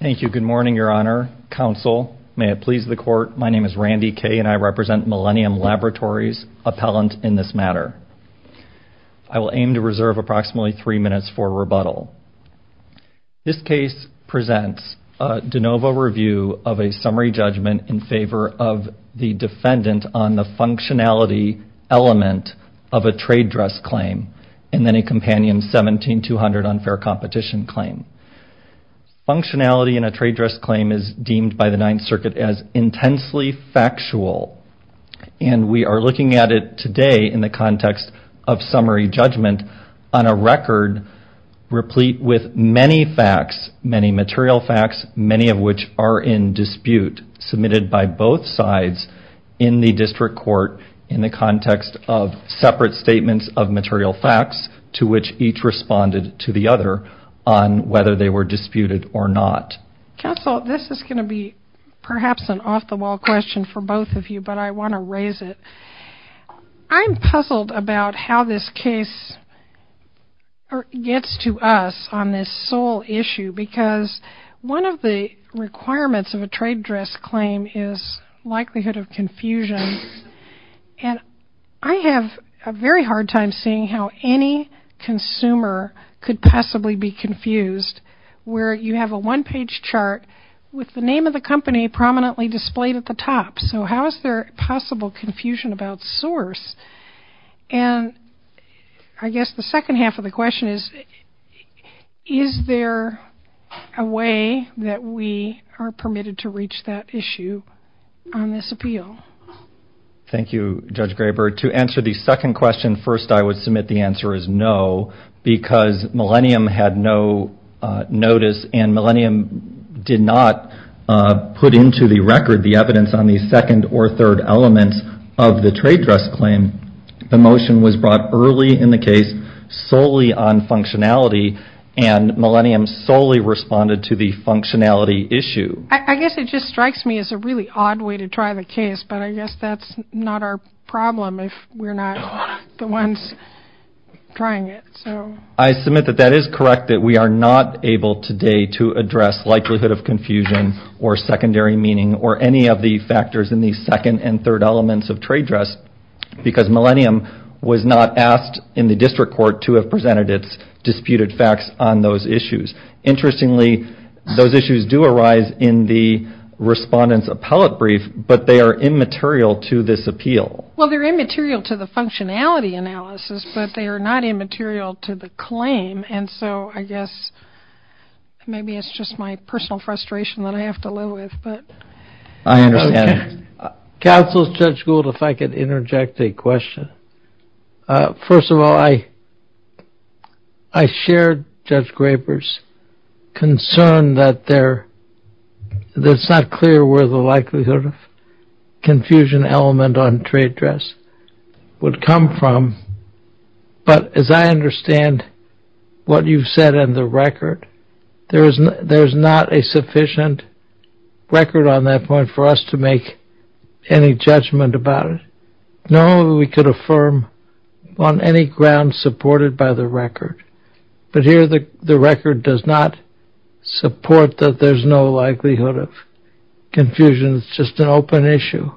Thank you. Good morning, Your Honor, Counsel. May it please the Court, my name is Randy Kaye and I represent Millennium Laboratories, appellant in this matter. I will aim to reserve approximately three minutes for rebuttal. This case presents a de novo review of a summary judgment in favor of the defendant on the functionality element of a trade dress claim and then a Companion 17-200 unfair competition claim. Functionality in a trade dress claim is deemed by the Ninth Circuit as intensely factual and we are looking at it today in the context of summary judgment on a record replete with many facts, many material facts, many of which are in dispute, submitted by both sides in the District Court in the context of separate statements of material facts to which each responded to the other on whether they were disputed or not. Counsel, this is going to be perhaps an off-the-wall question for both of you, but I want to raise it. I'm puzzled about how this case gets to us on this sole issue because one of the requirements of a trade dress claim is likelihood of confusion and I have a very hard time seeing how any consumer could possibly be confused where you have a one-page chart with the name of the company prominently displayed at the top, so how is there possible confusion about source? And I guess the second half of the question is, is there a way that we are permitted to reach that issue on this appeal? Thank you, Judge Graber. To answer the second question, first I would submit the answer is no because Millennium had no notice and Millennium did not put into the record the evidence on the second or third elements of the trade dress claim. The motion was brought early in the case, solely on functionality, and Millennium solely responded to the functionality issue. I guess it just strikes me as a really odd way to try the case, but I guess that's not our problem if we're not the ones trying it. I submit that that is correct that we are not able today to address likelihood of confusion or secondary meaning or any of the factors in the court to have presented its disputed facts on those issues. Interestingly, those issues do arise in the respondent's appellate brief, but they are immaterial to this appeal. Well, they're immaterial to the functionality analysis, but they are not immaterial to the claim, and so I guess maybe it's just my personal frustration that I have to live with. I understand. Counsel, Judge Gould, if I could interject a question. First of all, I shared Judge Graber's concern that it's not clear where the likelihood of confusion element on trade dress would come from, but as I understand what you've said in the record, there is not a sufficient record on that point for us to make any judgment about it. Normally, we could affirm on any ground supported by the record, but here the record does not support that there's no likelihood of confusion. It's just an open issue.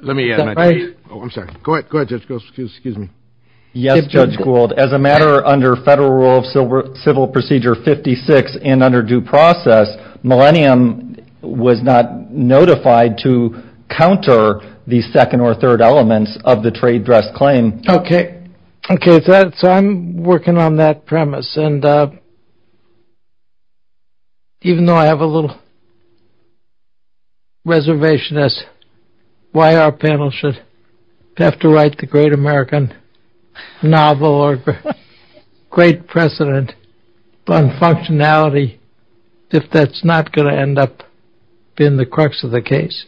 Let me add, oh, I'm sorry. Go ahead. Go ahead, Judge Gould. Excuse me. Yes, Judge Gould, as a matter under Federal Rule of Civil Procedure 56 and under due process, Millennium was not notified to counter the second or third elements of the trade dress claim. OK. OK. So I'm working on that premise. And even though I have a little reservation as why our panel should have to write the Great American novel or great precedent on functionality, if that's not going to end up being the crux of the case.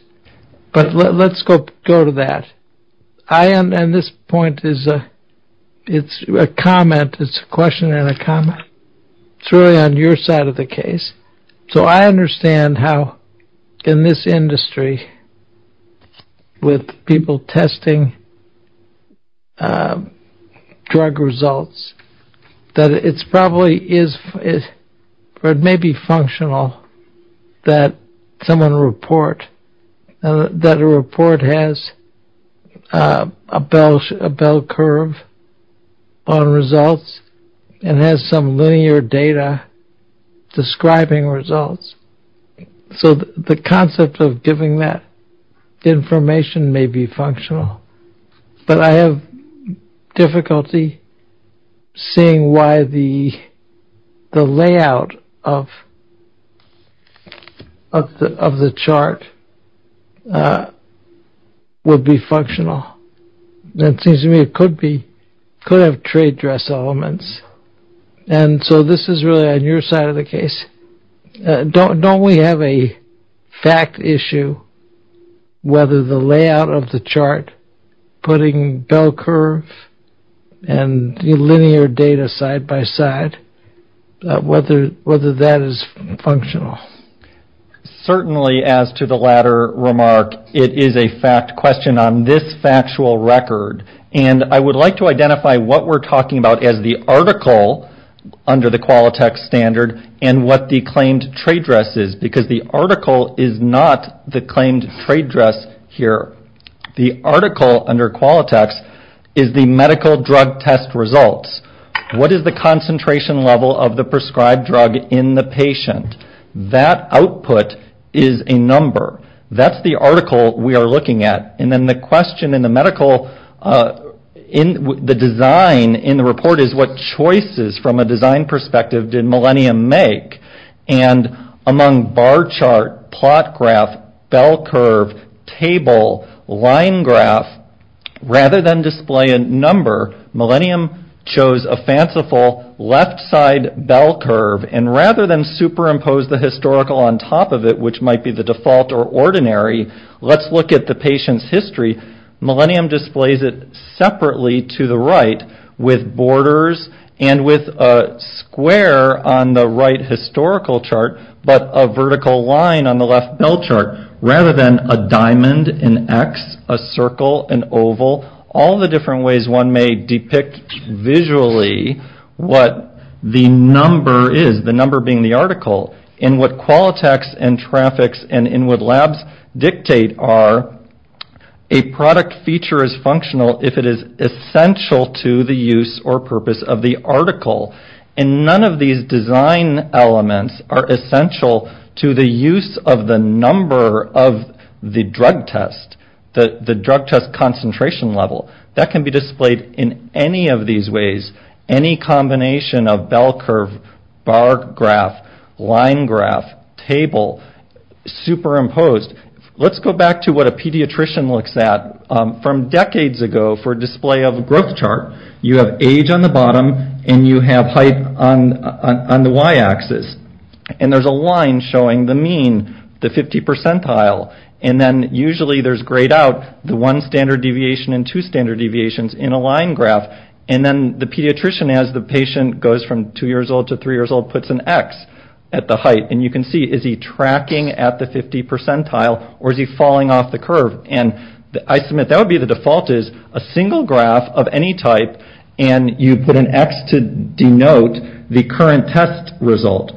But let's go to that. I am. And this point is a it's a comment. It's a question and a comment. It's really on your side of the case. So I understand how in this industry with people testing drug results, that it's probably is or it may be functional that someone report that a report has a bell curve on results and has some linear data describing results. So the concept of giving that information may be functional, but I have difficulty seeing why the the layout of. Of the chart. Would be functional. That seems to me it could be could have trade dress elements. And so this is really on your side of the case. Don't don't we have a fact issue? Whether the layout of the chart putting bell curve and linear data side by side, whether whether that is functional. Certainly, as to the latter remark, it is a fact question on this factual record. And I would like to identify what we're talking about as the article under the Qualitex standard and what the claimed trade dress is, because the article is not the claimed trade dress here. The article under Qualitex is the medical drug test results. What is the concentration level of the prescribed drug in the patient? That output is a number. That's the article we are looking at. And then the question in the medical in the design in the report is what choices from a design perspective did Millennium make? And among bar chart, plot graph, bell curve, table, line graph, rather than display a number, Millennium chose a fanciful left side bell curve and rather than superimpose the historical on top of it, which might be the default or ordinary, let's look at the patient's history. Millennium displays it separately to the right with borders and with a square on the right historical chart, but a vertical line on the left bell chart rather than a diamond, an X, a circle, an oval, all the different ways one may depict visually what the number is, the number being the article. In what Qualitex and Trafix and in what labs dictate are a product feature is functional if it is essential to the use or purpose of the article. And none of these design elements are essential to the use of the number of the drug test, the drug test concentration level. That can be displayed in any of these ways, any combination of bell curve, bar graph, line graph, table, superimposed. Let's go back to what a pediatrician looks at from decades ago for display of growth chart. You have age on the bottom and you have height on the Y-axis and there's a line showing the mean, the 50 percentile, and then usually there's grayed out the one standard deviation and two standard deviations in a line graph. And then the pediatrician, as the patient goes from two years old to three years old, puts an X at the height. And you can see is he tracking at the 50 percentile or is he falling off the curve? And I submit that would be the default is a single graph of any type and you put an X to denote the current test result.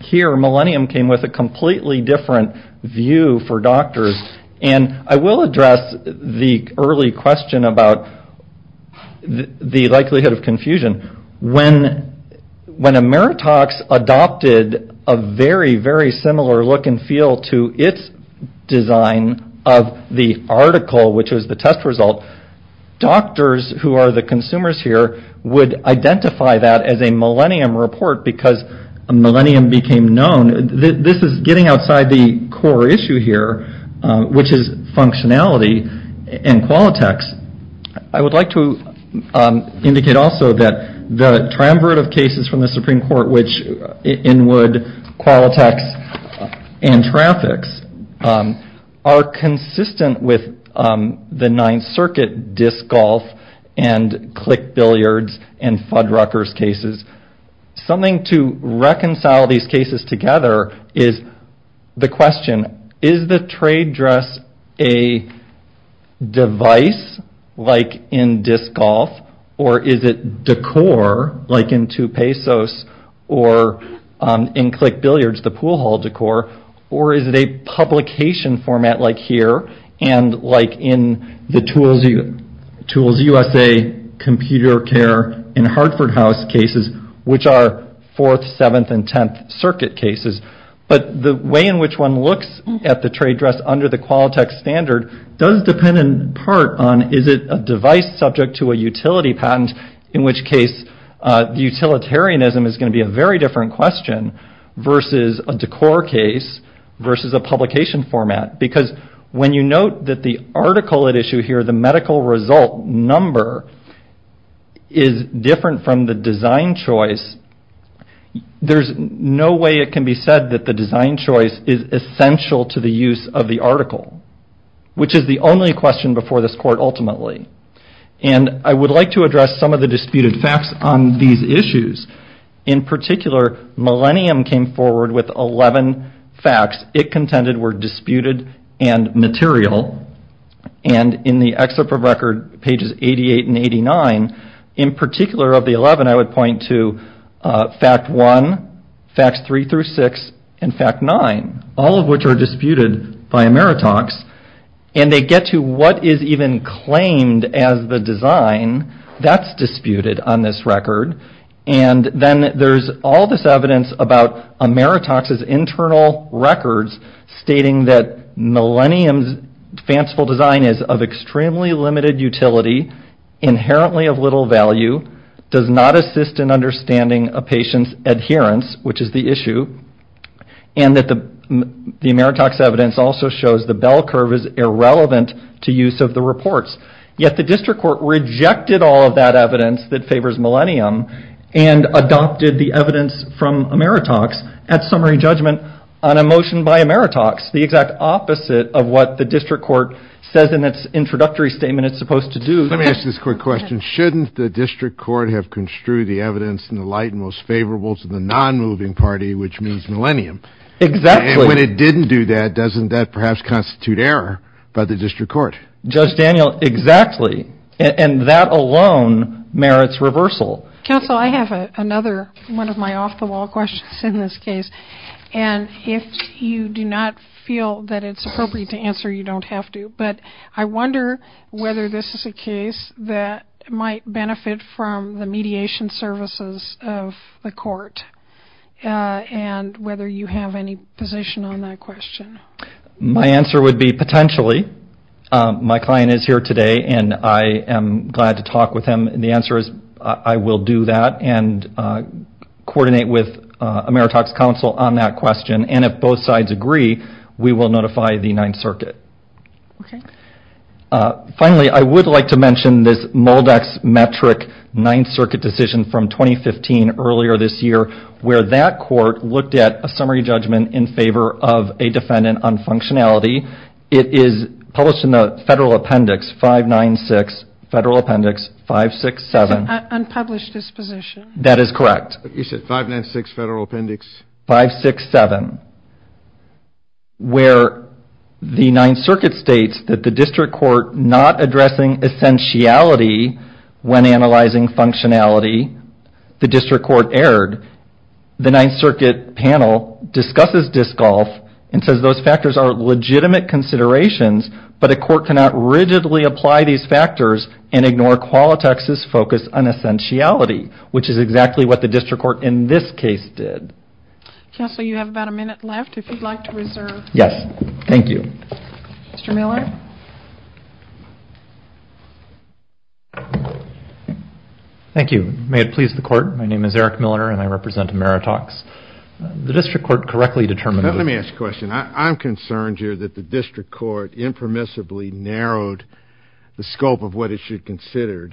Here Millennium came with a completely different view for doctors and I will address the early question about the likelihood of confusion. When Ameritox adopted a very, very similar look and feel to its design of the article, which was the test result, doctors who are the consumers here would identify that as a Millennium report because a Millennium became known. This is getting outside the core issue here, which is functionality and Qualitex. I would like to indicate also that the triumvirate of cases from the Supreme Court, which Inwood, Qualitex, and Trafix are consistent with the Ninth Circuit disc golf and click billiards and Fuddruckers cases. Something to reconcile these cases together is the question, is the trade dress a device like in disc golf or is it decor like in two pesos or in click billiards the pool hall decor or is it a publication format like here and like in the Tools USA, Computer Care, and Hartford House cases, which are Fourth, Seventh, and Tenth Circuit cases. But the way in which one looks at the trade dress under the Qualitex standard does depend in part on is it a device subject to a utility patent, in which case the utilitarianism is going to be a very different question versus a decor case versus a publication format because when you note that the article at issue here, the medical result number is different from the design choice, there's no way it can be said that the design choice is essential to the use of the article, which is the only question before this court ultimately. I would like to address some of the disputed facts on these records. Millennium came forward with 11 facts. It contended were disputed and material and in the excerpt of record pages 88 and 89, in particular of the 11, I would point to fact one, facts three through six, and fact nine, all of which are disputed by Ameritox and they get to what is even claimed as the design that's disputed on this record, and then there's all this evidence about Ameritox's internal records stating that Millennium's fanciful design is of extremely limited utility, inherently of little value, does not assist in understanding a patient's adherence, which is the issue, and that the Ameritox evidence also shows the bell curve is irrelevant to use of the reports. Yet the District Court rejected all of that evidence that favors Millennium and adopted the evidence from Ameritox at summary judgment on a motion by Ameritox, the exact opposite of what the District Court says in its introductory statement it's supposed to do. Let me ask this court question. Shouldn't the District Court have construed the evidence in the light and most favorable to the non-moving party, which means Millennium? Exactly. And when it didn't do that, doesn't that perhaps constitute error by the District Court? Judge Daniel, exactly, and that alone merits reversal. Counsel, I have another one of my off-the-wall questions in this case, and if you do not feel that it's appropriate to answer, you don't have to, but I wonder whether this is a case that might benefit from the mediation services of the court and whether you have any position on that question. My answer would be potentially. My client is here today, and I am glad to talk with him. The answer is I will do that and coordinate with Ameritox counsel on that question, and if both sides agree, we will notify the Ninth Circuit. Okay. Finally, I would like to mention this Moldex metric Ninth Circuit decision from 2015 earlier this year, where that court looked at a summary judgment in favor of a defendant on functionality. It is published in the Federal Appendix 596, Federal Appendix 567. Unpublished disposition. That is correct. You said 596 Federal Appendix? 567, where the Ninth Circuit states that not addressing essentiality when analyzing functionality, the district court erred. The Ninth Circuit panel discusses disc golf and says those factors are legitimate considerations, but a court cannot rigidly apply these factors and ignore Qualitex's focus on essentiality, which is exactly what the district court in this case did. Counsel, you have about a minute left if you'd like to reserve. Yes. Thank you. Mr. Miller? Thank you. May it please the court, my name is Eric Milner and I represent Ameritox. The district court correctly determined... Let me ask a question. I'm concerned here that the district court impermissibly narrowed the scope of what it should consider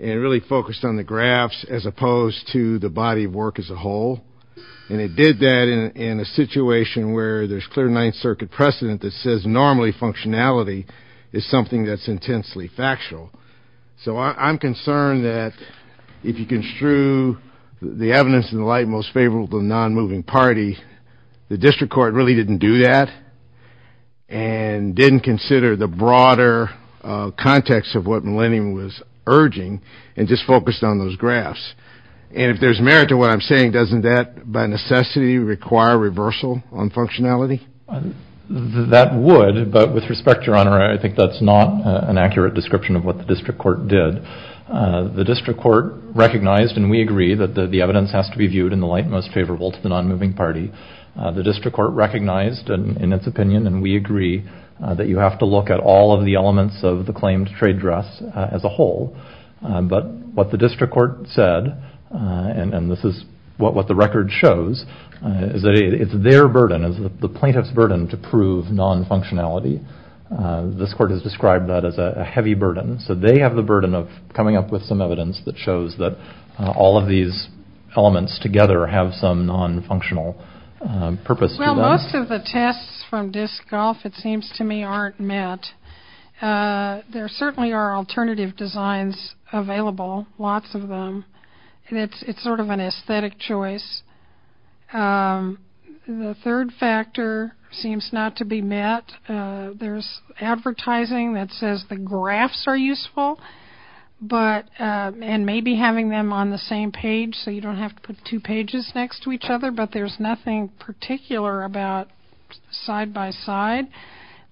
and really focused on the graphs as opposed to the body of work as a whole, and it did that in a situation where there's clear Ninth Circuit precedent that says normally functionality is something that's intensely factual. So I'm concerned that if you construe the evidence in the light most favorable to the non-moving party, the district court really didn't do that and didn't consider the broader context of what Millennium was urging and just focused on those graphs. And if there's merit to what I'm saying, doesn't that by necessity require reversal on functionality? That would, but with respect, Your Honor, I think that's not an accurate description of what the district court did. The district court recognized, and we agree, that the evidence has to be viewed in the light most favorable to the non-moving party. The district court recognized in its opinion, and we agree, that you have to look at all of the elements of the claimed trade dress as a whole. But what the district court said, and this is what the record shows, is that it's their burden, the plaintiff's burden, to prove non-functionality. This court has described that as a heavy burden. So they have the burden of coming up with some evidence that shows that all of these elements together have some non-functional purpose to them. Well, most of the tests from Disc Golf, it seems to me, aren't met. There certainly are alternative designs available, lots of them, and it's sort of an aesthetic choice. The third factor seems not to be met. There's advertising that says the graphs are useful, but, and maybe having them on the same page, so you don't have to put two pages next to each other, but there's nothing particular about side by side.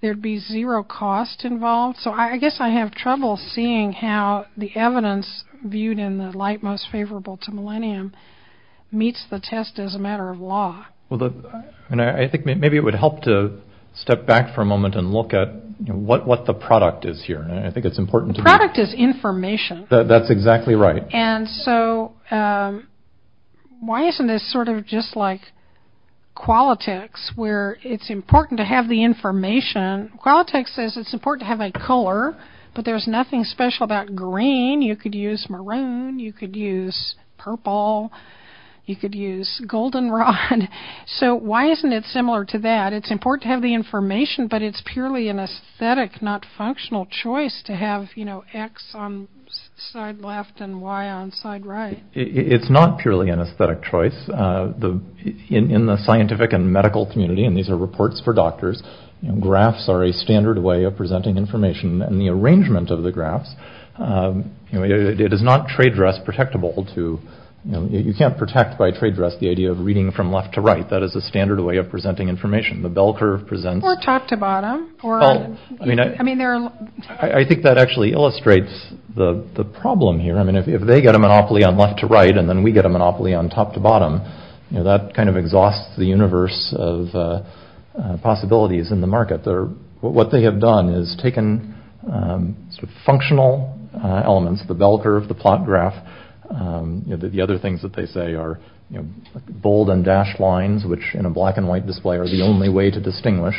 There'd be zero cost involved. So I guess I have trouble seeing how the evidence viewed in the light most favorable to Millennium meets the test as a matter of law. Well, I think maybe it would help to step back for a moment and look at what the product is here, and I think it's important. Product is information. That's exactly right. And so why isn't this sort of just like Qualitex, where it's important to have the information. Qualitex says it's important to have a color, but there's nothing special about green. You could use maroon, you could use purple, you could use goldenrod. So why isn't it similar to that? It's important to have the information, but it's purely an aesthetic, not functional choice to have, you know, x on side left and y on side right. It's not purely an aesthetic choice. In the scientific and medical community, and these are reports for doctors, graphs are a standard way of presenting information, and the arrangement of the graphs, you know, it is not trade dress protectable to, you know, you can't protect by trade dress the idea of reading from left to right. That is a standard way of presenting information. The bell curve presents... Or top to bottom. I mean, I think that actually illustrates the problem here. I mean, if they get a monopoly on left to right, and then we get a monopoly on top to bottom, you know, that kind of exhausts the universe of possibilities in the market. What they have done is taken sort of functional elements, the bell curve, the plot and white display are the only way to distinguish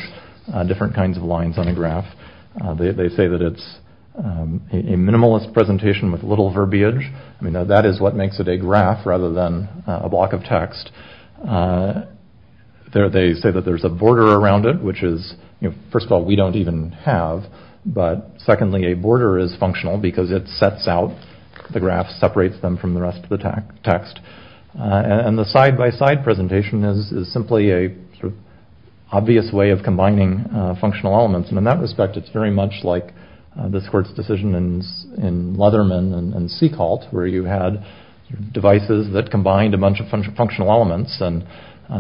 different kinds of lines on a graph. They say that it's a minimalist presentation with little verbiage. I mean, that is what makes it a graph rather than a block of text. They say that there's a border around it, which is, you know, first of all, we don't even have, but secondly, a border is functional because it sets out the graph, separates them from the rest of the text. And the side by side presentation is simply a sort of obvious way of combining functional elements. And in that respect, it's very much like this court's decision in Leatherman and Seacolt, where you had devices that combined a bunch of functional elements. And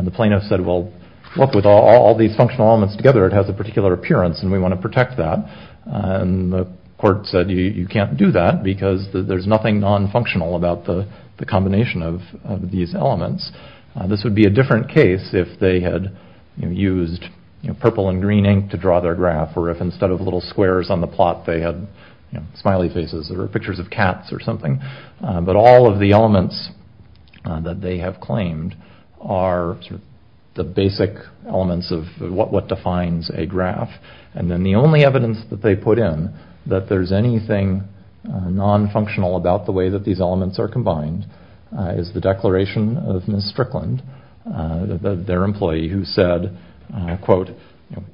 the plaintiff said, well, look, with all these functional elements together, it has a particular appearance, and we want to protect that. And the court said, you can't do that because there's nothing non-functional about the combination of these elements. This would be a different case if they had used purple and green ink to draw their graph, or if instead of little squares on the plot, they had smiley faces or pictures of cats or something. But all of the elements that they have claimed are the basic elements of what defines a graph. And then the only evidence that they put in that there's anything non-functional about the way that these elements are combined is the declaration of Ms. Strickland, their employee, who said, quote,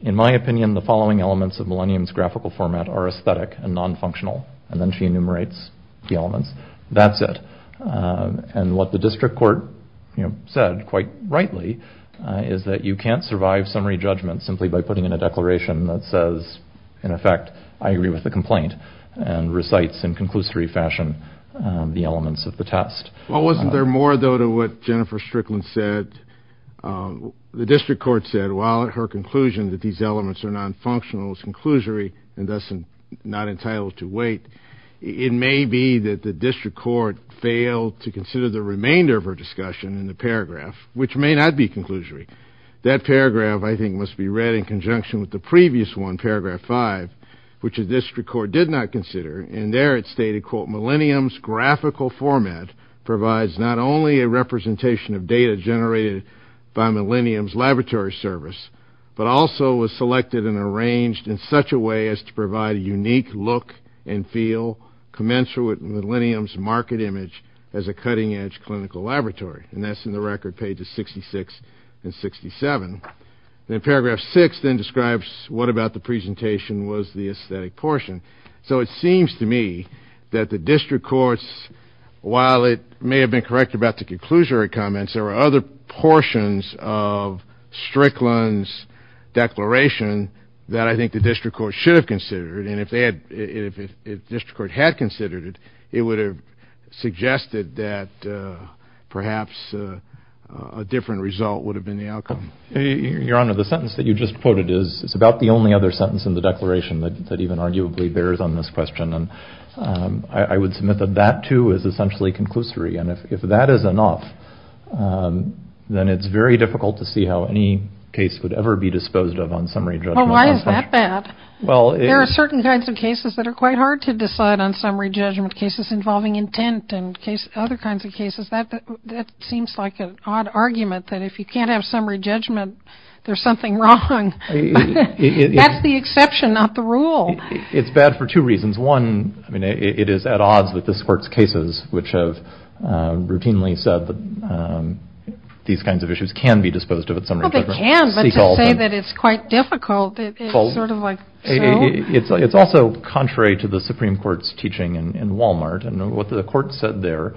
in my opinion, the following elements of Millennium's graphical format are aesthetic and non-functional. And then she enumerates the elements. That's it. And what the district court said, quite rightly, is that you can't survive summary judgment simply by putting in a declaration that says, in effect, I agree with the complaint, and recites in conclusory fashion the elements of the test. Well, wasn't there more, though, to what Jennifer Strickland said? The district court said, while her conclusion that these elements are non-functional is conclusory and thus not entitled to wait, it may be that the district court failed to consider the remainder of her discussion in the paragraph, which may not be conclusory. That paragraph, I think, must be read in conjunction with the previous one, paragraph 5, which the district court did not consider. And there it stated, quote, Millennium's graphical format provides not only a representation of data generated by Millennium's laboratory service, but also was selected and arranged in such a way as to provide a unique look and feel commensurate with Millennium's market image as a cutting-edge clinical laboratory. And that's in the record pages 66 and 67. And paragraph 6 then describes what about the presentation was the aesthetic portion. So it seems to me that the district courts, while it may have been correct about the conclusory comments, there were other portions of Strickland's declaration that I think the district court should have considered. And if district court had considered it, it would have suggested that perhaps a different result would have been the outcome. Your Honor, the sentence that you just quoted is about the only other sentence in the declaration that even arguably bears on this question. And I would submit that that too is essentially conclusory. And if that is enough, then it's very difficult to see how any case would ever be disposed of on summary judgment. Well, why is that bad? Well, there are certain cases that are quite hard to decide on summary judgment cases involving intent and other kinds of cases. That seems like an odd argument that if you can't have summary judgment, there's something wrong. That's the exception, not the rule. It's bad for two reasons. One, I mean, it is at odds with this court's cases, which have routinely said that these kinds of issues can be disposed of at summary judgment. Well, they can, but to say that it's quite difficult, it's sort of like... It's also contrary to the Supreme Court's teaching in Walmart. And what the court said there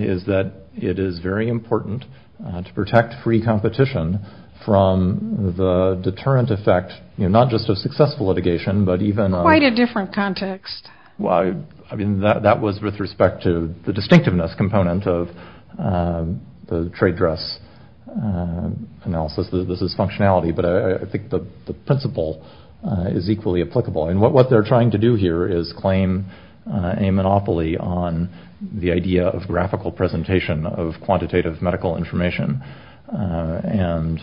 is that it is very important to protect free competition from the deterrent effect, not just of successful litigation, but even... Quite a different context. Well, I mean, that was with respect to the distinctiveness component of the trade dress analysis. This is functionality, but I think the principle is equally applicable. And what they're trying to do here is claim a monopoly on the idea of graphical presentation of quantitative medical information. And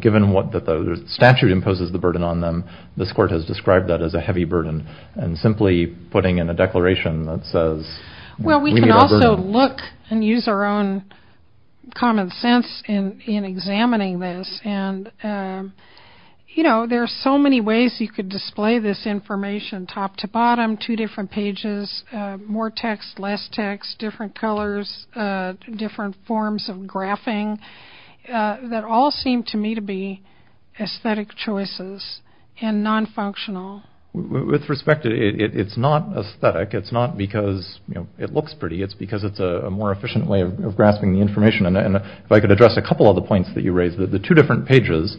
given what the statute imposes the burden on them, this court has described that as a heavy burden and simply putting in a declaration that says... In examining this, and there are so many ways you could display this information top to bottom, two different pages, more text, less text, different colors, different forms of graphing that all seem to me to be aesthetic choices and non-functional. With respect to... It's not aesthetic. It's not because it looks pretty. It's because it's a more I could address a couple of the points that you raised. The two different pages,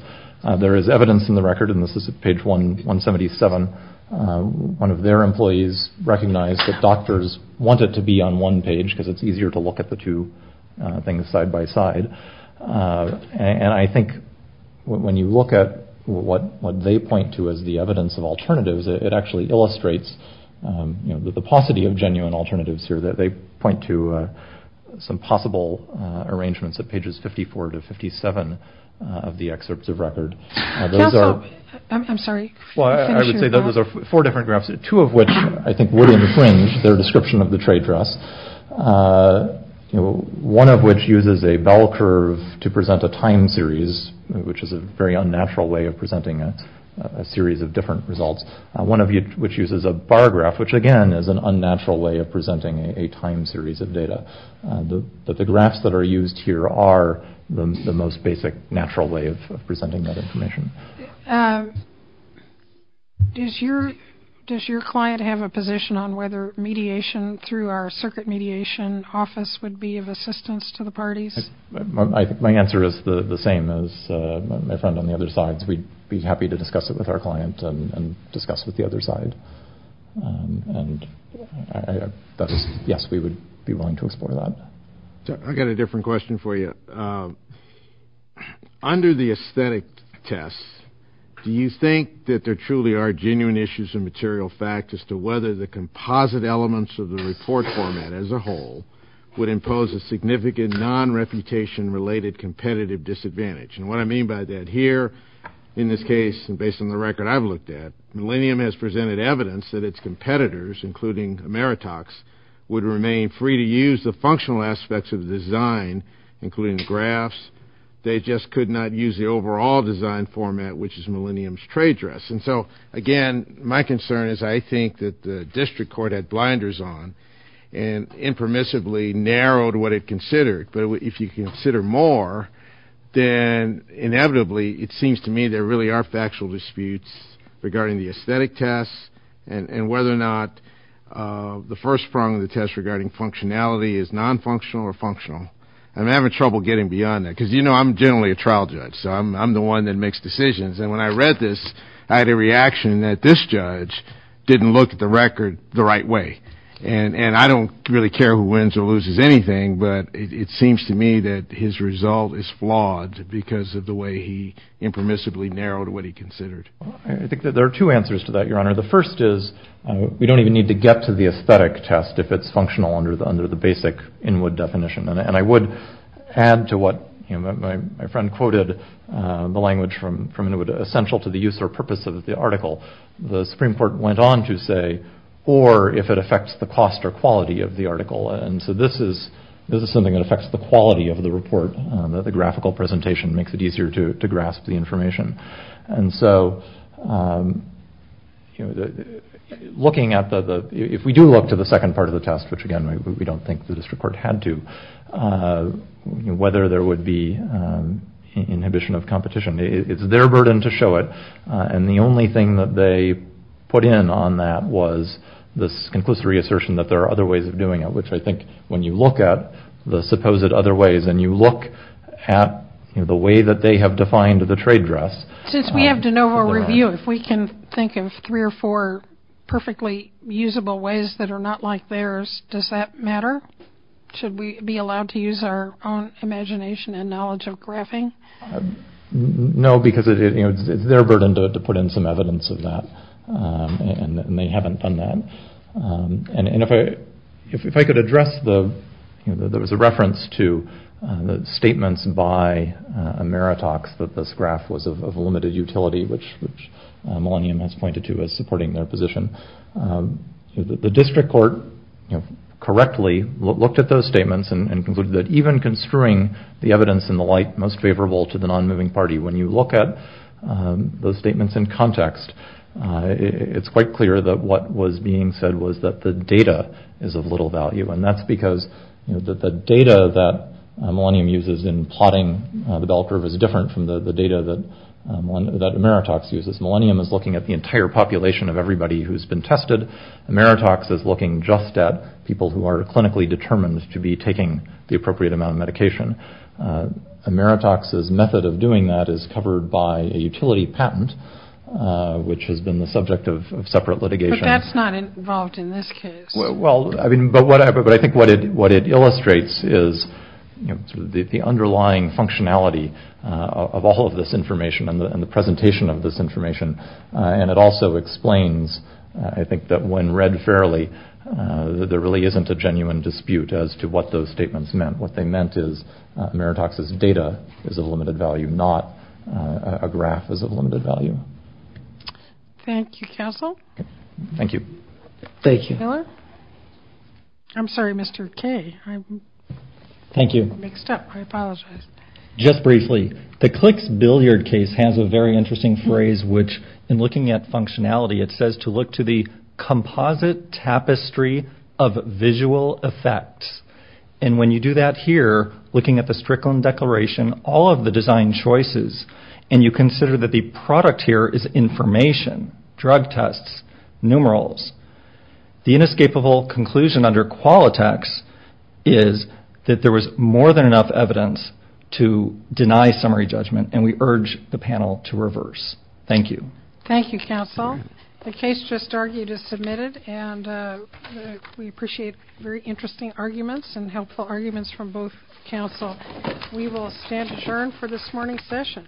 there is evidence in the record, and this is page 177. One of their employees recognized that doctors wanted to be on one page because it's easier to look at the two things side by side. And I think when you look at what they point to as the evidence of alternatives, it actually illustrates the paucity of genuine alternatives here that they point to some possible arrangements at pages 54 to 57 of the excerpts of record. Those are... Counsel, I'm sorry. Well, I would say that those are four different graphs, two of which I think would infringe their description of the trade dress. One of which uses a bell curve to present a time series, which is a very unnatural way of presenting a series of different results. One of which uses a bar graph, which again is an unnatural way of presenting a time series of data. But the graphs that are used here are the most basic natural way of presenting that information. Does your client have a position on whether mediation through our circuit mediation office would be of assistance to the parties? I think my answer is the same as my friend on the other side. We'd be happy to discuss it our client and discuss with the other side. And yes, we would be willing to explore that. I got a different question for you. Under the aesthetic tests, do you think that there truly are genuine issues of material fact as to whether the composite elements of the report format as a whole would impose a significant non-reputation related competitive disadvantage? And what I mean by that here, in this case, and based on the record I've looked at, Millennium has presented evidence that its competitors, including Ameritox, would remain free to use the functional aspects of the design, including the graphs. They just could not use the overall design format, which is Millennium's trade dress. And so again, my concern is I think that the district court had blinders on and impermissibly narrowed what it considered. But if you consider more, then inevitably it seems to me there really are factual disputes regarding the aesthetic tests and whether or not the first prong of the test regarding functionality is non-functional or functional. I'm having trouble getting beyond that because, you know, I'm generally a trial judge. So I'm the one that makes decisions. And when I read this, I had a reaction that this judge didn't look at the record the right way. And I don't really care who wins or loses anything, but it seems to me that his result is flawed because of the way he impermissibly narrowed what he considered. I think that there are two answers to that, Your Honor. The first is we don't even need to get to the aesthetic test if it's functional under the basic Inwood definition. And I would add to what my friend quoted, the language from Inwood, essential to the use or purpose of the article, the Supreme Court went on to say, or if it affects the cost or quality of the article. And so this is something that affects the quality of the report, that the graphical presentation makes it easier to grasp the information. And so looking at the, if we do look to the second part of the test, which again, we don't think the district court had to, whether there would be inhibition of competition, it's their burden to show it. And the only thing that they put in on that was this conclusive reassertion that there are other ways of doing it, which I think when you look at the supposed other ways and you look at the way that they have defined the trade dress. Since we have de novo review, if we can think of three or four perfectly usable ways that are not like theirs, does that matter? Should we be allowed to use our own imagination and knowledge of graphing? No, because it's their burden to put in some and if I could address the, there was a reference to the statements by Meritox that this graph was of a limited utility, which Millennium has pointed to as supporting their position. The district court correctly looked at those statements and concluded that even construing the evidence in the light most favorable to the non-moving party, when you look at those statements in context, it's quite clear that what was being said was that the data is of little value. And that's because the data that Millennium uses in plotting the bell curve is different from the data that Meritox uses. Millennium is looking at the entire population of everybody who's been tested. Meritox is looking just at people who are clinically determined to be taking the appropriate amount of medication. Meritox's method of doing that is covered by a utility patent, which has been the subject of separate litigation. But that's not involved in this case. Well, I mean, but I think what it illustrates is the underlying functionality of all of this information and the presentation of this information. And it also explains, I think, that when read fairly, there really isn't a genuine dispute as to what those statements meant. What they meant is Meritox's data is of limited value, not a graph is of limited value. Thank you, counsel. Thank you. Thank you. I'm sorry, Mr. K. Thank you. Just briefly, the clicks billiard case has a very interesting phrase, which in looking at functionality, it says to look to the composite tapestry of visual effects. And when you do that here, looking at the Strickland Declaration, all of the design choices, and you consider that the product here is information, drug tests, numerals, the inescapable conclusion under Qualitex is that there was more than enough evidence to deny summary judgment, and we urge the panel to reverse. Thank you. Thank you, counsel. The case just argued is submitted, and we appreciate very interesting arguments and helpful arguments from both counsel. We will adjourn for this morning's session.